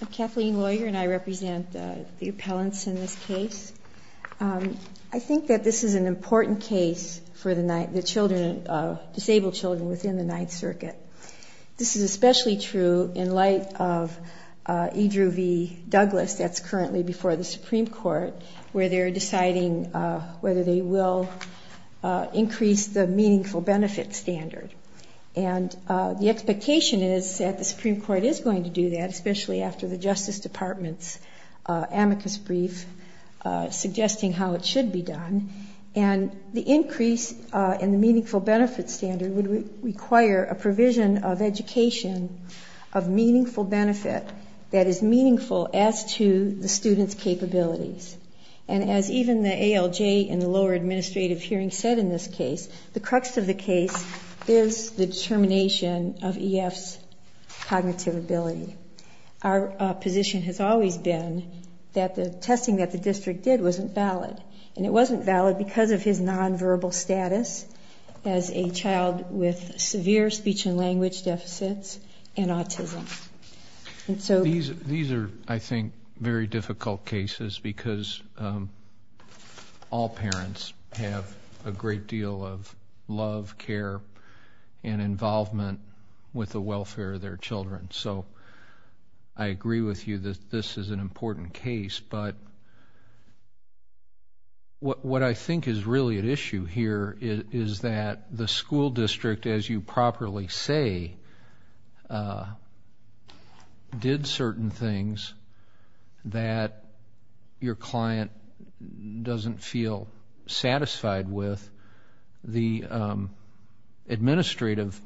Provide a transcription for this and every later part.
I'm Kathleen Lawyer and I represent the appellants in this case. I think that this is an important case for the disabled children within the Ninth Circuit. This is especially true in light of E. Drew v. Douglas, that's currently before the Supreme Court, where they're deciding whether they will increase the Meaningful Benefit Standard. And the expectation is that the Supreme Court is going to do that, especially after the Justice Department's amicus brief suggesting how it should be done. And the increase in the Meaningful Benefit Standard would require a provision of education of meaningful benefit that is meaningful as to the student's capabilities. And as even the ALJ in the lower administrative hearing said in this case, the crux of the case is the determination of E.F.'s cognitive ability. Our position has always been that the testing that the district did wasn't valid. And it wasn't valid because of his non-verbal status as a child with severe speech and language deficits and autism. And so... There's a great deal of love, care, and involvement with the welfare of their children. So I agree with you that this is an important case. But what I think is really at issue here is that the school district, as you properly say, did certain things that your client doesn't feel satisfied with. The administrative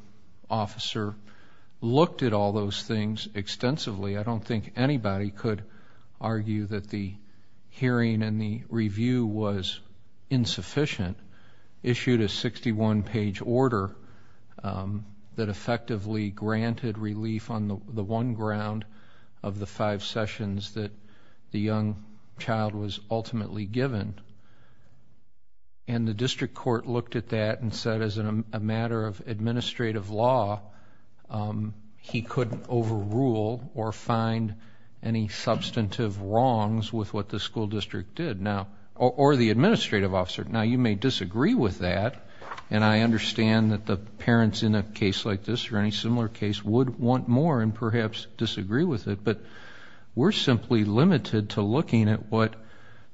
officer looked at all those things extensively. I don't think anybody could argue that the hearing and the review was insufficient. Issued a 61-page order that effectively granted relief on the one ground of the five sessions that the young child was ultimately given. And the district court looked at that and said as a matter of administrative law, he couldn't overrule or find any substantive wrongs with what the school district did. Or the administrative officer. Now, you may disagree with that. And I understand that the parents in a case like this or any similar case would want more and perhaps disagree with it. But we're simply limited to looking at what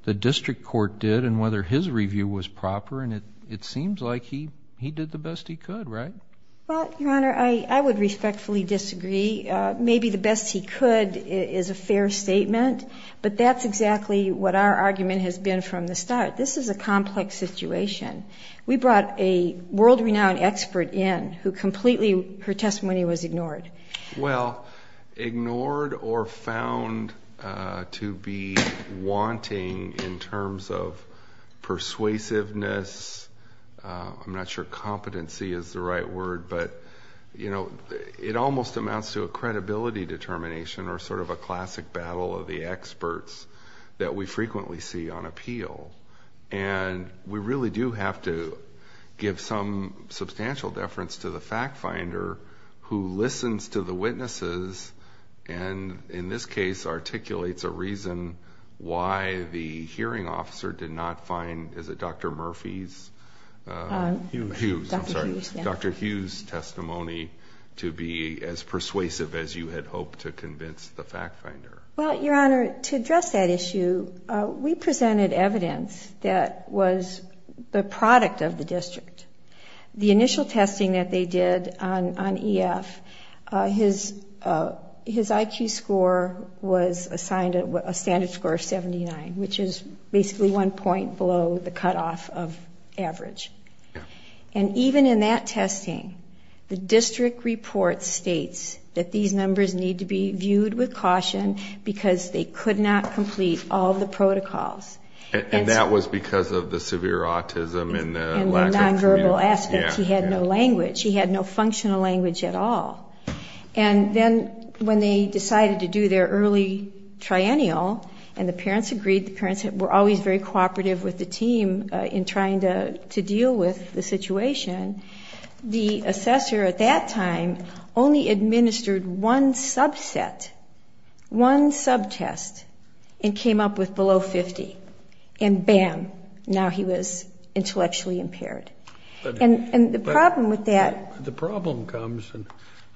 the district court did and whether his review was proper. And it seems like he did the best he could, right? Well, your honor, I would respectfully disagree. Maybe the best he could is a fair statement. But that's exactly what our argument has been from the start. This is a complex situation. We brought a world-renowned expert in who completely, her testimony was ignored. Well, ignored or found to be wanting in terms of persuasiveness, I'm not sure competency is the right word, but it almost amounts to a credibility determination or sort of a classic battle of the experts that we frequently see on appeal. And we really do have to give some substantial deference to the fact finder who listens to the witnesses and in this case articulates a reason why the hearing officer did not find, is it Dr. Murphy's? Hughes. Hughes, I'm sorry. Dr. Hughes' testimony to be as persuasive as you had hoped to convince the fact finder. Well, your honor, to address that issue, we presented evidence that was the product of the district. The initial testing that they did on EF, his IQ score was assigned a standard score of 79, which is basically one point below the cutoff of average. And even in that because they could not complete all the protocols. And that was because of the severe autism and the lack of communication. And the nonverbal aspects. He had no language. He had no functional language at all. And then when they decided to do their early triennial and the parents agreed, the parents were always very cooperative with the team in trying to deal with the situation, the assessor at that time only administered one subset, one subtest, and came up with below 50. And bam, now he was intellectually impaired. And the problem with that... The problem comes, and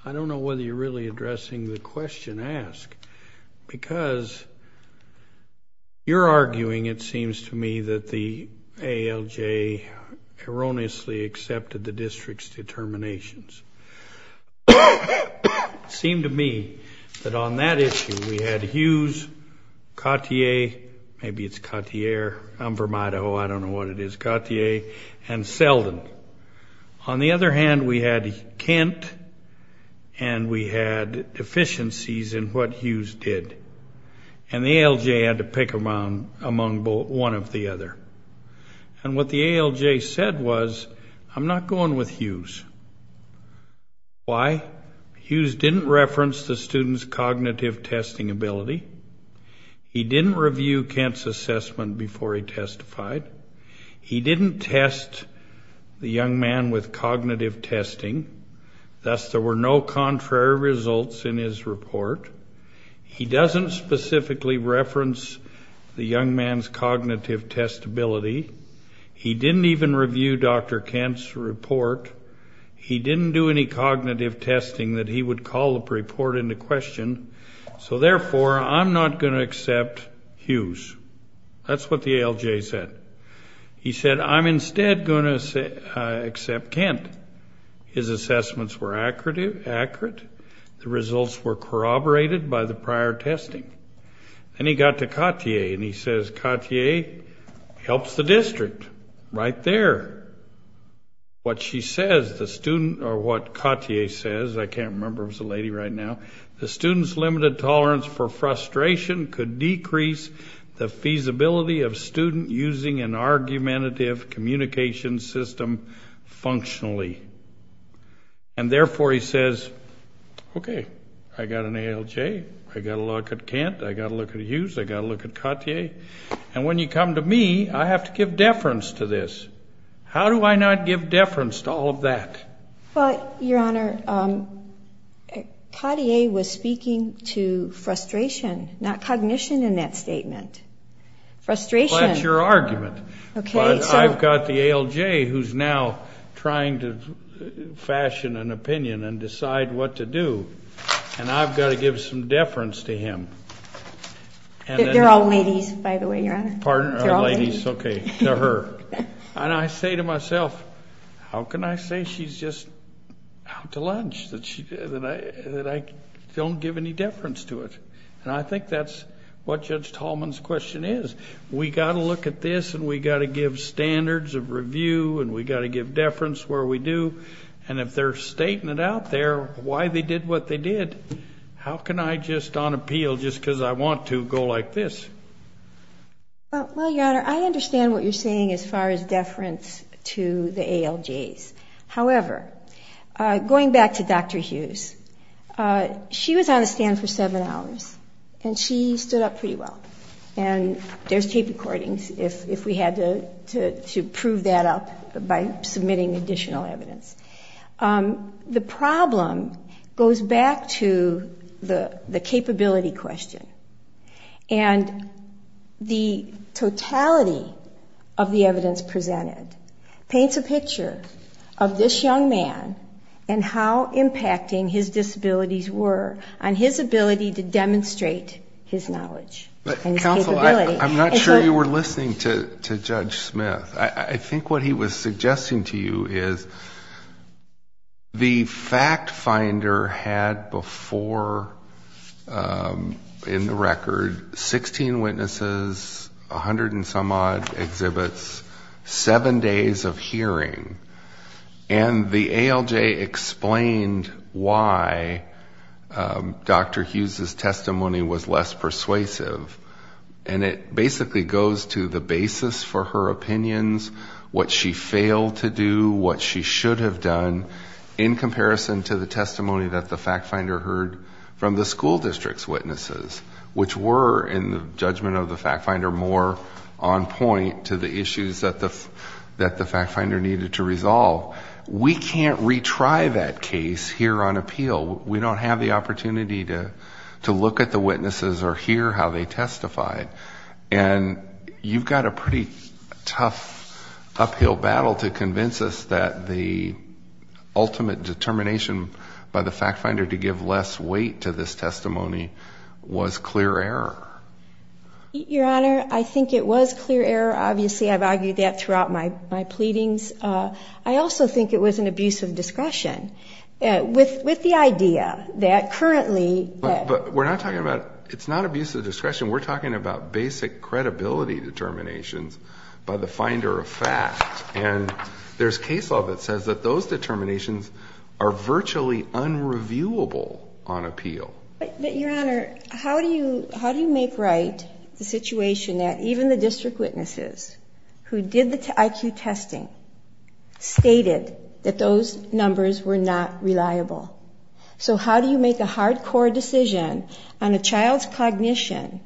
I don't know whether you're really addressing the question asked, because you're arguing, it seems to me, that the ALJ erroneously accepted the district's determinations. It seemed to me that on that issue we had Hughes, Cotier, maybe it's Cotier, I'm from Idaho, I don't know what it is, Cotier, and Selden. On the other hand, we had Kent, and we had deficiencies in what Hughes did. And the ALJ had to pick among one of the other. And what the ALJ said was, I'm not going with Hughes. Why? Hughes didn't reference the student's cognitive testing ability. He didn't review Kent's assessment before he testified. He didn't test the young man with cognitive testing, thus there were no contrary results in his testability. He didn't even review Dr. Kent's report. He didn't do any cognitive testing that he would call the report into question. So therefore, I'm not going to accept Hughes. That's what the ALJ said. He said, I'm instead going to accept Kent. His assessments were accurate. The results were corroborated by the prior testing. And he got to Cotier, and he says, Cotier helps the district, right there. What she says, the student, or what Cotier says, I can't remember if it's a lady right now, the student's limited tolerance for frustration could decrease the feasibility of student using an argumentative communication system functionally. And therefore, he says, okay, I got an ALJ, I got to look at Kent, I got to look at Hughes, I got to look at Cotier. And when you come to me, I have to give deference to this. How do I not give deference to all of that? But, Your Honor, Cotier was speaking to frustration, not cognition in that statement. Frustration- That's your argument. Okay, so- But I've got the ALJ who's now trying to fashion an opinion and decide what to do, and I've got to give some deference to him. They're all ladies, by the way, Your Honor. Pardon? They're all ladies. Okay, to her. And I say to myself, how can I say she's just out to lunch, that I don't give any deference to it? And I think that's what Judge Tallman's question is. We've got to look at this, and we've got to give standards of review, and we've got to give deference where we do. And if they're stating it out there, why they did what they did, how can I just, on appeal, just because I want to, go like this? Well, Your Honor, I understand what you're saying as far as deference to the ALJs. However, going back to Dr. Hughes, she was on the stand for seven hours, and she stood up pretty well. And there's tape recordings, if we had to prove that up by submitting additional evidence. The problem goes back to the capability question. And the totality of the evidence presented paints a picture of this young man and how impacting his disabilities were on his ability to demonstrate his knowledge and his capability. But counsel, I'm not sure you were listening to Judge Smith. I think what he was suggesting to you is the fact finder had before, in the record, 16 witnesses, 100 and some odd exhibits, seven days of hearing. And the ALJ explained why Dr. Hughes' testimony was less persuasive. And it basically goes to the basis for her opinions, what she failed to do, what she should have done, in comparison to the testimony that the fact finder heard from the school district's witnesses, which were, in the judgment of the fact finder, more on point to the issue that the fact finder needed to resolve. We can't retry that case here on appeal. We don't have the opportunity to look at the witnesses or hear how they testified. And you've got a pretty tough uphill battle to convince us that the ultimate determination by the fact finder to give less weight to this testimony was clear error. Your Honor, I think it was clear error. Obviously, I've argued that throughout my pleadings. I also think it was an abuse of discretion. With the idea that currently... But we're not talking about, it's not abuse of discretion. We're talking about basic credibility determinations by the finder of fact. And there's case law that says that those determinations are virtually unreviewable on appeal. But, Your Honor, how do you make right the situation that even the district witnesses who did the IQ testing stated that those numbers were not reliable? So how do you make a hardcore decision on a child's cognition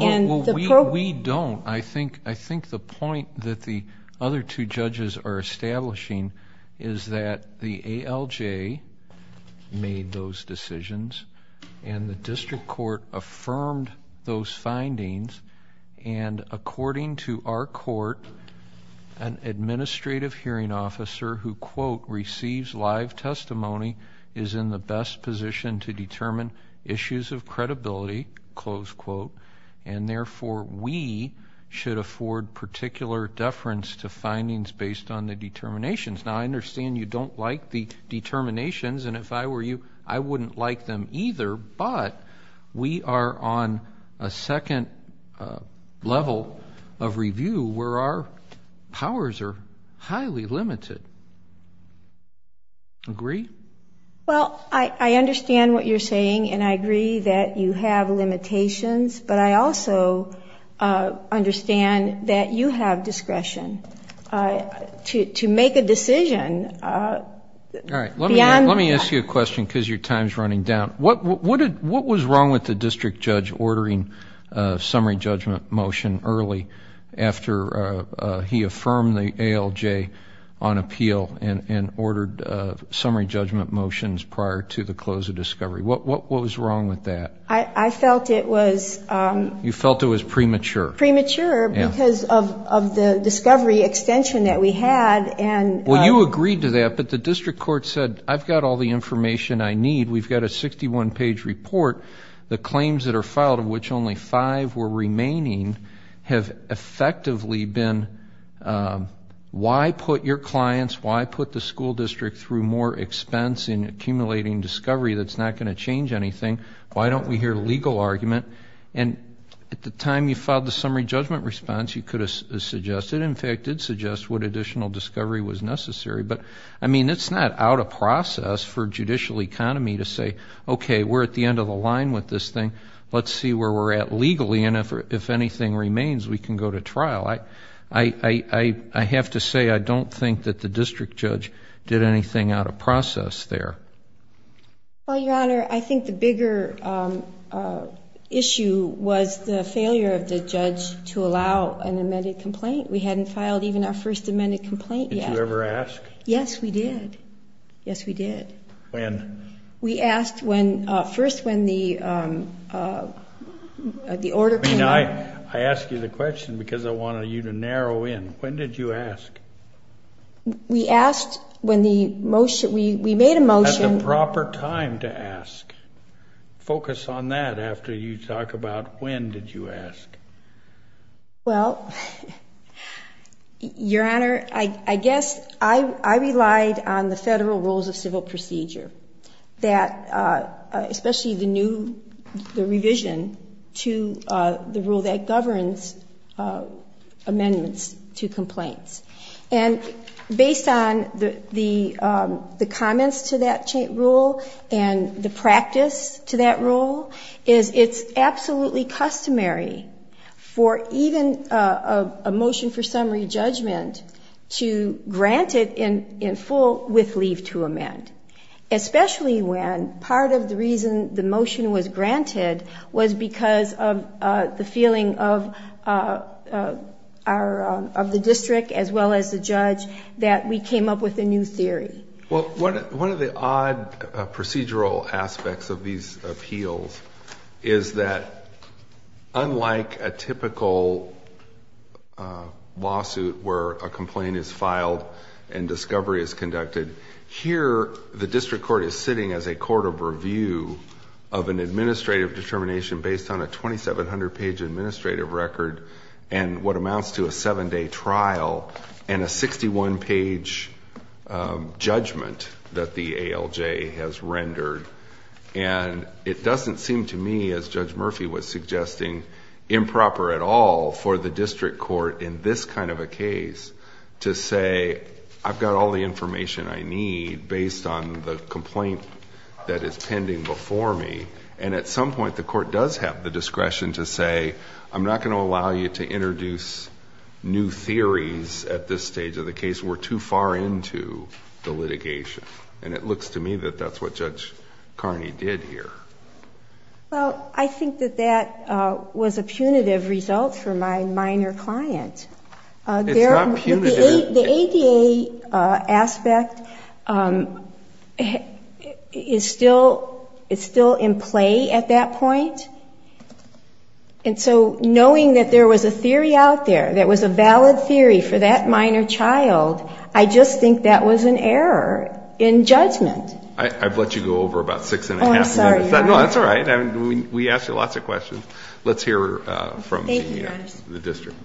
and the program... We don't. I think the point that the other two judges are establishing is that the ALJ made those decisions and the district court affirmed those findings. And according to our court, an administrative hearing officer who, quote, receives live testimony is in the best position to determine issues of credibility, close quote. And therefore, we should afford particular deference to findings based on the determinations. Now, I understand you don't like the determinations. And if I were you, I wouldn't like them either. But we are on a second level of review where our powers are highly limited. Agree? Well, I understand what you're saying, and I agree that you have limitations. But I also understand that you have discretion to make a decision beyond... Let me ask you a question because your time is running down. What was wrong with the district judge ordering a summary judgment motion early after he affirmed the ALJ on appeal and ordered summary judgment motions prior to the close of discovery? What was wrong with that? I felt it was... You felt it was premature. Premature because of the discovery extension that we had and... Well, you agreed to that, but the district court said, I've got all the information I need. We've got a 61-page report. The claims that are filed, of which only five were remaining, have effectively been, why put your clients, why put the school district through more expense in accumulating discovery that's not going to change anything? Why don't we hear legal argument? And at the time you filed the summary judgment response, you could have suggested, in fact, did suggest what additional discovery was necessary. But, I mean, it's not out of process for judicial economy to say, okay, we're at the end of the line with this thing. Let's see where we're at legally, and if anything remains, we can go to trial. I have to say I don't think that the district judge did anything out of process there. Well, Your Honor, I think the bigger issue was the failure of the judge to allow an amended complaint. We hadn't filed even our first amended complaint yet. Did you ever ask? Yes, we did. Yes, we did. When? We asked first when the order came up. I mean, I ask you the question because I wanted you to narrow in. When did you ask? We asked when the motion, we made a motion. At the proper time to ask. Focus on that after you talk about when did you ask. Well, Your Honor, I guess I relied on the federal rules of civil procedure that, especially the new revision to the rule that governs amendments to complaints. And based on the comments to that rule and the practice to that rule, is it's absolutely customary for even a motion for summary judgment to grant it in full with leave to amend, especially when part of the reason the motion was granted was because of the feeling of the district, as well as the judge, that we came up with a new theory. Well, one of the odd procedural aspects of these appeals is that unlike a typical lawsuit where a complaint is filed and discovery is conducted, here the district court is sitting as a court of review of an administrative determination based on a 2,700-page administrative record and what amounts to a seven-day trial and a 61-page judgment that the ALJ has rendered. It doesn't seem to me, as Judge Murphy was suggesting, improper at all for the district court in this kind of a case to say, I've got all the information I need based on the complaint that is pending before me. And at some point, the court does have the discretion to say, I'm not going to allow you to introduce new theories at this stage of the case. We're too far into the litigation. And it looks to me that that's what Judge Carney did here. Well, I think that that was a punitive result for my minor client. It's not punitive. The ADA aspect is still in play at that point. And so knowing that there was a theory out there that was a valid theory for that minor child, I just think that was an error in judgment. I've let you go over about six and a half minutes. Oh, I'm sorry. No, that's all right. We asked you lots of questions. Let's hear from the district.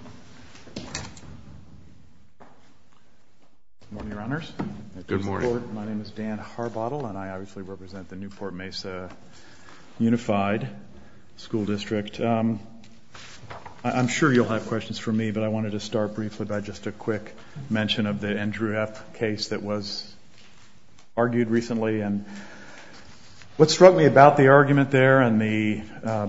Good morning, Your Honors. Good morning. My name is Dan Harbottle, and I obviously represent the Newport Mesa Unified School District. I'm sure you'll have questions for me, but I wanted to start briefly by just a quick mention of the Andrew F. case that was argued recently. What struck me about the argument there and the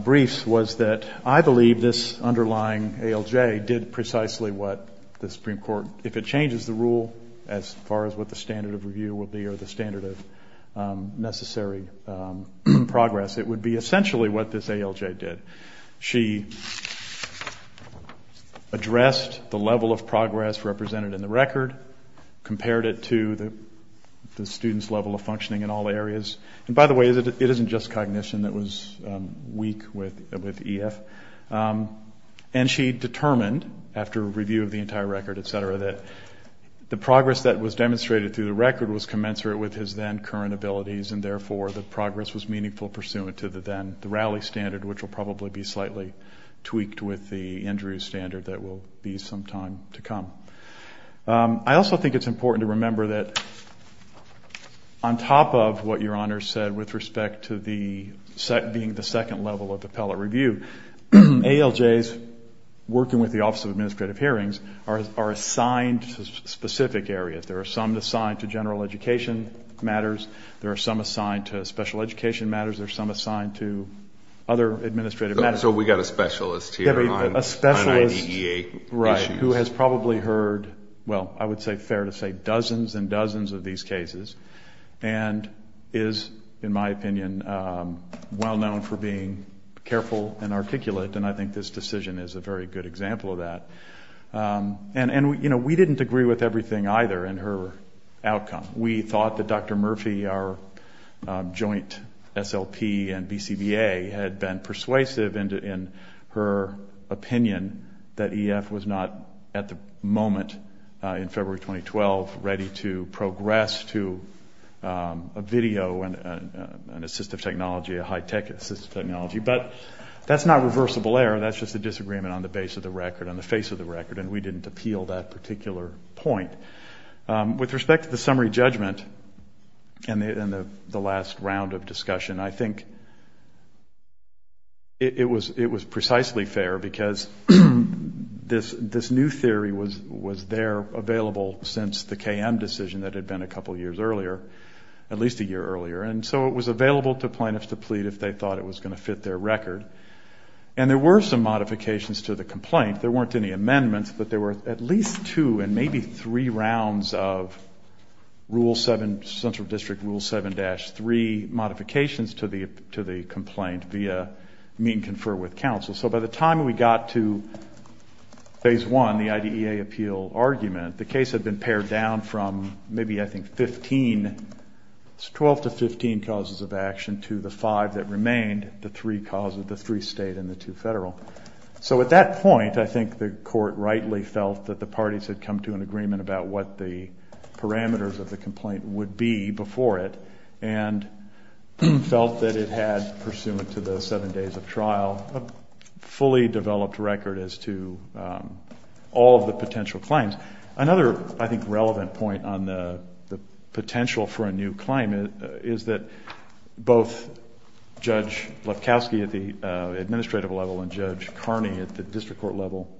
briefs was that I believe this underlying ALJ did precisely what the Supreme Court, if it changes the rule as far as what the standard of review will be or the standard of necessary progress, it would be essentially what this ALJ did. She addressed the level of progress represented in the record, compared it to the student's level of functioning in all areas. And by the way, it isn't just cognition that was weak with EF. And she determined, after a review of the entire record, et cetera, that the progress that was demonstrated through the record was commensurate with his then current abilities, and therefore the progress was meaningful pursuant to the then rally standard, which will probably be slightly tweaked with the Andrew standard that will be some time to come. I also think it's important to remember that on top of what Your Honor said with respect to being the second level of appellate review, ALJs working with the Office of Administrative Hearings are assigned to specific areas. There are some assigned to general education matters. There are some assigned to special education matters. There are some assigned to other administrative matters. So we've got a specialist here on IDEA issues. Right, who has probably heard, well, I would say fair to say dozens and dozens of these cases, and is, in my opinion, well known for being careful and articulate, and I think this decision is a very good example of that. And, you know, we didn't agree with everything either in her outcome. We thought that Dr. Murphy, our joint SLP and BCBA, had been persuasive in her opinion that EF was not at the moment in February 2012 ready to progress to a video and assistive technology, a high-tech assistive technology. But that's not reversible error. That's just a disagreement on the base of the record, on the face of the record, and we didn't appeal that particular point. With respect to the summary judgment and the last round of discussion, I think it was precisely fair because this new theory was there available since the KM decision that had been a couple years earlier, at least a year earlier, and so it was available to plaintiffs to plead if they thought it was going to fit their record. And there were some modifications to the complaint. There weren't any amendments, but there were at least two and maybe three rounds of rule 7, central district rule 7-3 modifications to the complaint via meet and confer with counsel. So by the time we got to phase 1, the IDEA appeal argument, the case had been pared down from maybe, I think, 15, 12 to 15 causes of action, to the five that remained, the three causes, the three state and the two federal. So at that point, I think the court rightly felt that the parties had come to an agreement about what the parameters of the complaint would be before it and felt that it had, pursuant to the seven days of trial, a fully developed record as to all of the potential claims. Another, I think, relevant point on the potential for a new claim is that both Judge Lefkowski at the administrative level and Judge Carney at the district court level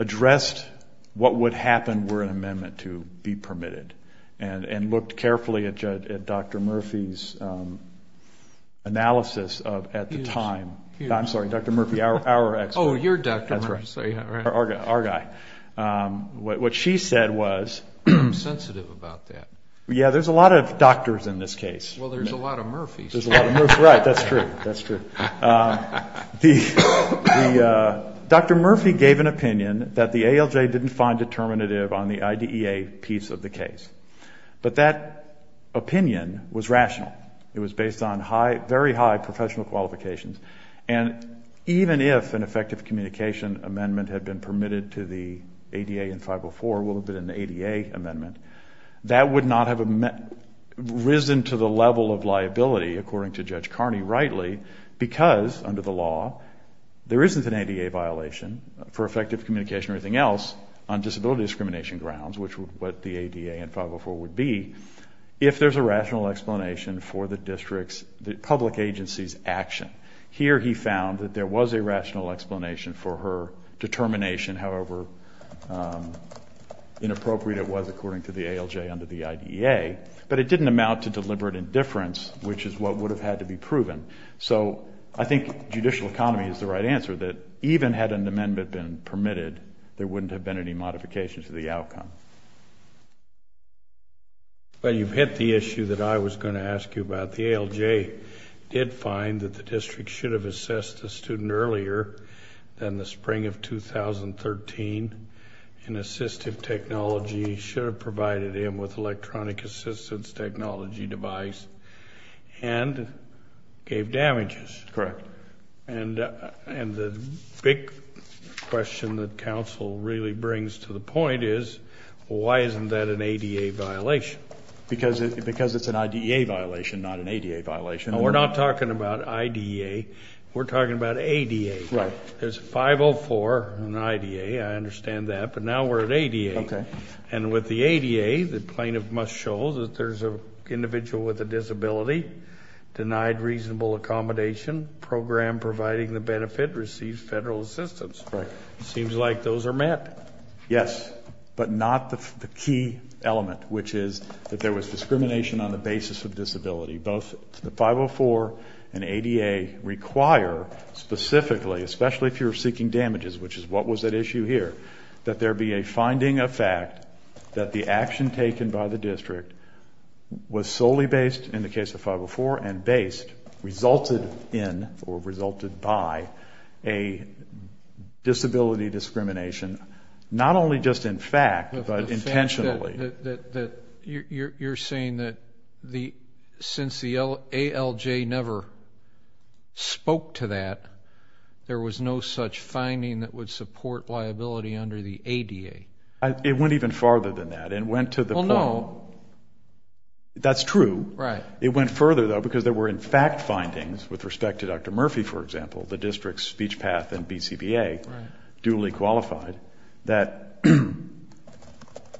addressed what would happen were an amendment to be permitted and looked carefully at Dr. Murphy's analysis at the time. I'm sorry, Dr. Murphy, our expert. Oh, you're Dr. Murphy. That's right. Our guy. What she said was. I'm sensitive about that. Yeah, there's a lot of doctors in this case. Well, there's a lot of Murphys. There's a lot of Murphys. Right, that's true. That's true. Dr. Murphy gave an opinion that the ALJ didn't find determinative on the IDEA piece of the case. But that opinion was rational. It was based on very high professional qualifications. And even if an effective communication amendment had been permitted to the ADA in 504, would have been an ADA amendment, that would not have risen to the level of liability, according to Judge Carney, rightly, because under the law there isn't an ADA violation for effective communication or anything else on disability discrimination grounds, which is what the ADA in 504 would be, if there's a rational explanation for the district's public agency's action. Here he found that there was a rational explanation for her determination, however inappropriate it was according to the ALJ under the IDEA, but it didn't amount to deliberate indifference, which is what would have had to be proven. So I think judicial economy is the right answer, that even had an amendment been permitted, there wouldn't have been any modification to the outcome. Well, you've hit the issue that I was going to ask you about. The ALJ did find that the district should have assessed the student earlier than the spring of 2013, and assistive technology should have provided him with electronic assistance technology device, and gave damages. Correct. And the big question that counsel really brings to the point is, why isn't that an ADA violation? Because it's an IDEA violation, not an ADA violation. We're not talking about IDEA, we're talking about ADA. Right. There's 504 and IDEA, I understand that, but now we're at ADA. Okay. And with the ADA, the plaintiff must show that there's an individual with a disability, denied reasonable accommodation, program providing the benefit, receives federal assistance. Right. Seems like those are met. Yes, but not the key element, which is that there was discrimination on the basis of disability. Both the 504 and ADA require specifically, especially if you're seeking damages, which is what was at issue here, that there be a finding of fact that the action taken by the district was solely based, in the case of 504 and based, resulted in or resulted by a disability discrimination, not only just in fact, but intentionally. The fact that you're saying that since the ALJ never spoke to that, there was no such finding that would support liability under the ADA. It went even farther than that. It went to the point. Well, no. That's true. Right. It went further, though, because there were, in fact, findings with respect to Dr. Murphy, for example, the district's speech path and BCBA, duly qualified, that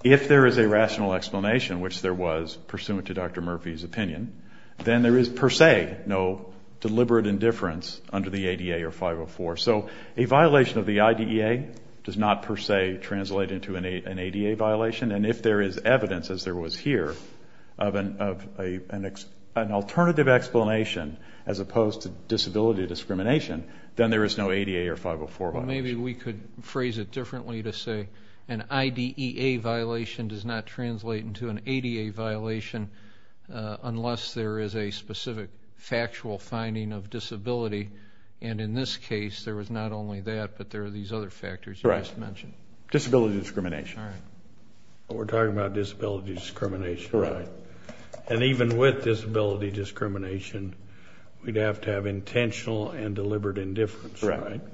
if there is a rational explanation, which there was pursuant to Dr. Murphy's opinion, then there is, per se, no deliberate indifference under the ADA or 504. So a violation of the IDEA does not, per se, translate into an ADA violation. And if there is evidence, as there was here, of an alternative explanation, as opposed to disability discrimination, then there is no ADA or 504 violation. Maybe we could phrase it differently to say an IDEA violation does not translate into an ADA violation unless there is a specific factual finding of disability. And in this case, there was not only that, but there are these other factors you just mentioned. Disability discrimination. All right. We're talking about disability discrimination, right? Correct. And even with disability discrimination, we'd have to have intentional and deliberate indifference, right? Correct.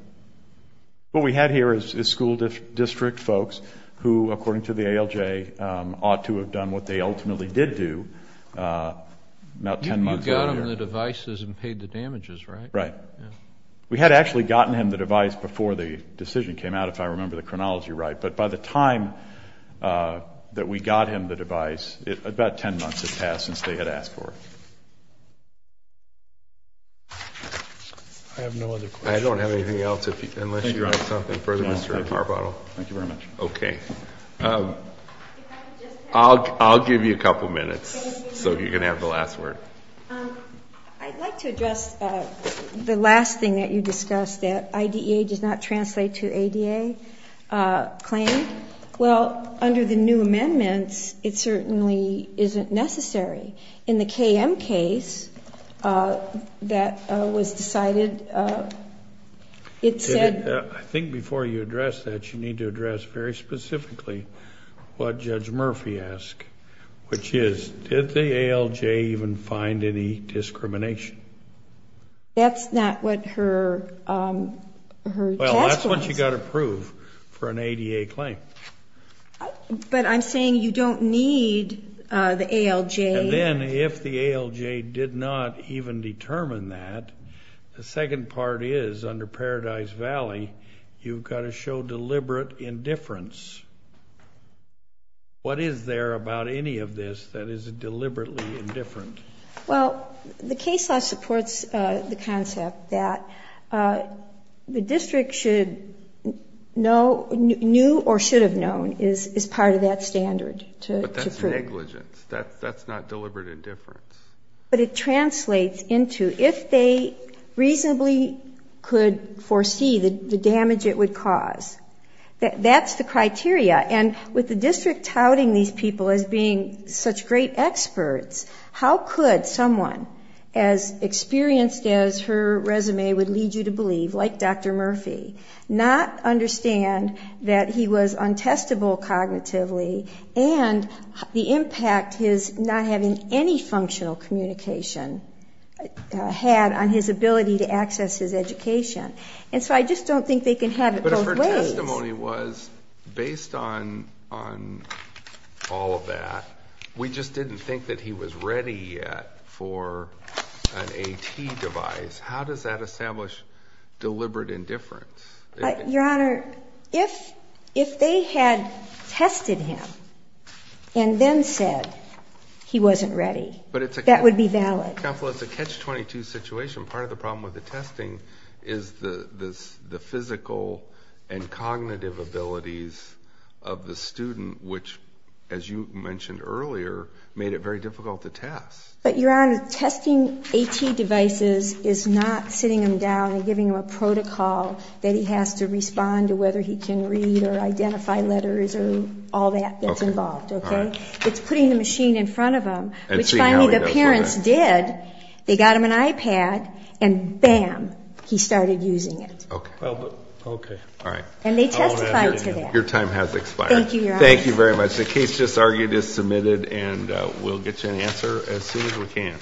What we had here is school district folks who, according to the ALJ, ought to have done what they ultimately did do about 10 months earlier. You got them the devices and paid the damages, right? Right. We had actually gotten him the device before the decision came out, if I remember the chronology right. But by the time that we got him the device, about 10 months had passed since they had asked for it. I have no other questions. I don't have anything else unless you'd like something further. Power bottle. Thank you very much. Okay. I'll give you a couple minutes so you can have the last word. I'd like to address the last thing that you discussed, that IDEA does not translate to ADA claim. Well, under the new amendments, it certainly isn't necessary. In the KM case that was decided, it said- I think before you address that, you need to address very specifically what Judge Murphy asked, which is, did the ALJ even find any discrimination? That's not what her test was. Well, that's what you got to prove for an ADA claim. But I'm saying you don't need the ALJ. And then if the ALJ did not even determine that, the second part is, under Paradise Valley, you've got to show deliberate indifference. What is there about any of this that is deliberately indifferent? Well, the case law supports the concept that the district should know, knew or should have known, is part of that standard to prove. But that's negligence. That's not deliberate indifference. But it translates into, if they reasonably could foresee the damage it would cause, that's the criteria. And with the district touting these people as being such great experts, how could someone as experienced as her resume would lead you to believe, like Dr. Murphy, not understand that he was untestable cognitively and the impact his not having any functional communication had on his ability to access his education? And so I just don't think they can have it both ways. But if her testimony was, based on all of that, we just didn't think that he was ready yet for an AT device, how does that establish deliberate indifference? Your Honor, if they had tested him and then said he wasn't ready, that would be valid. Counsel, it's a catch-22 situation. Part of the problem with the testing is the physical and cognitive abilities of the student, which, as you mentioned earlier, made it very difficult to test. But, Your Honor, testing AT devices is not sitting him down and giving him a protocol that he has to respond to whether he can read or identify letters or all that that's involved. It's putting the machine in front of him, which finally the parents did. They got him an iPad and, bam, he started using it. Okay. Okay. All right. And they testified to that. Your time has expired. Thank you, Your Honor. Thank you very much. The case just argued is submitted and we'll get you an answer as soon as we can.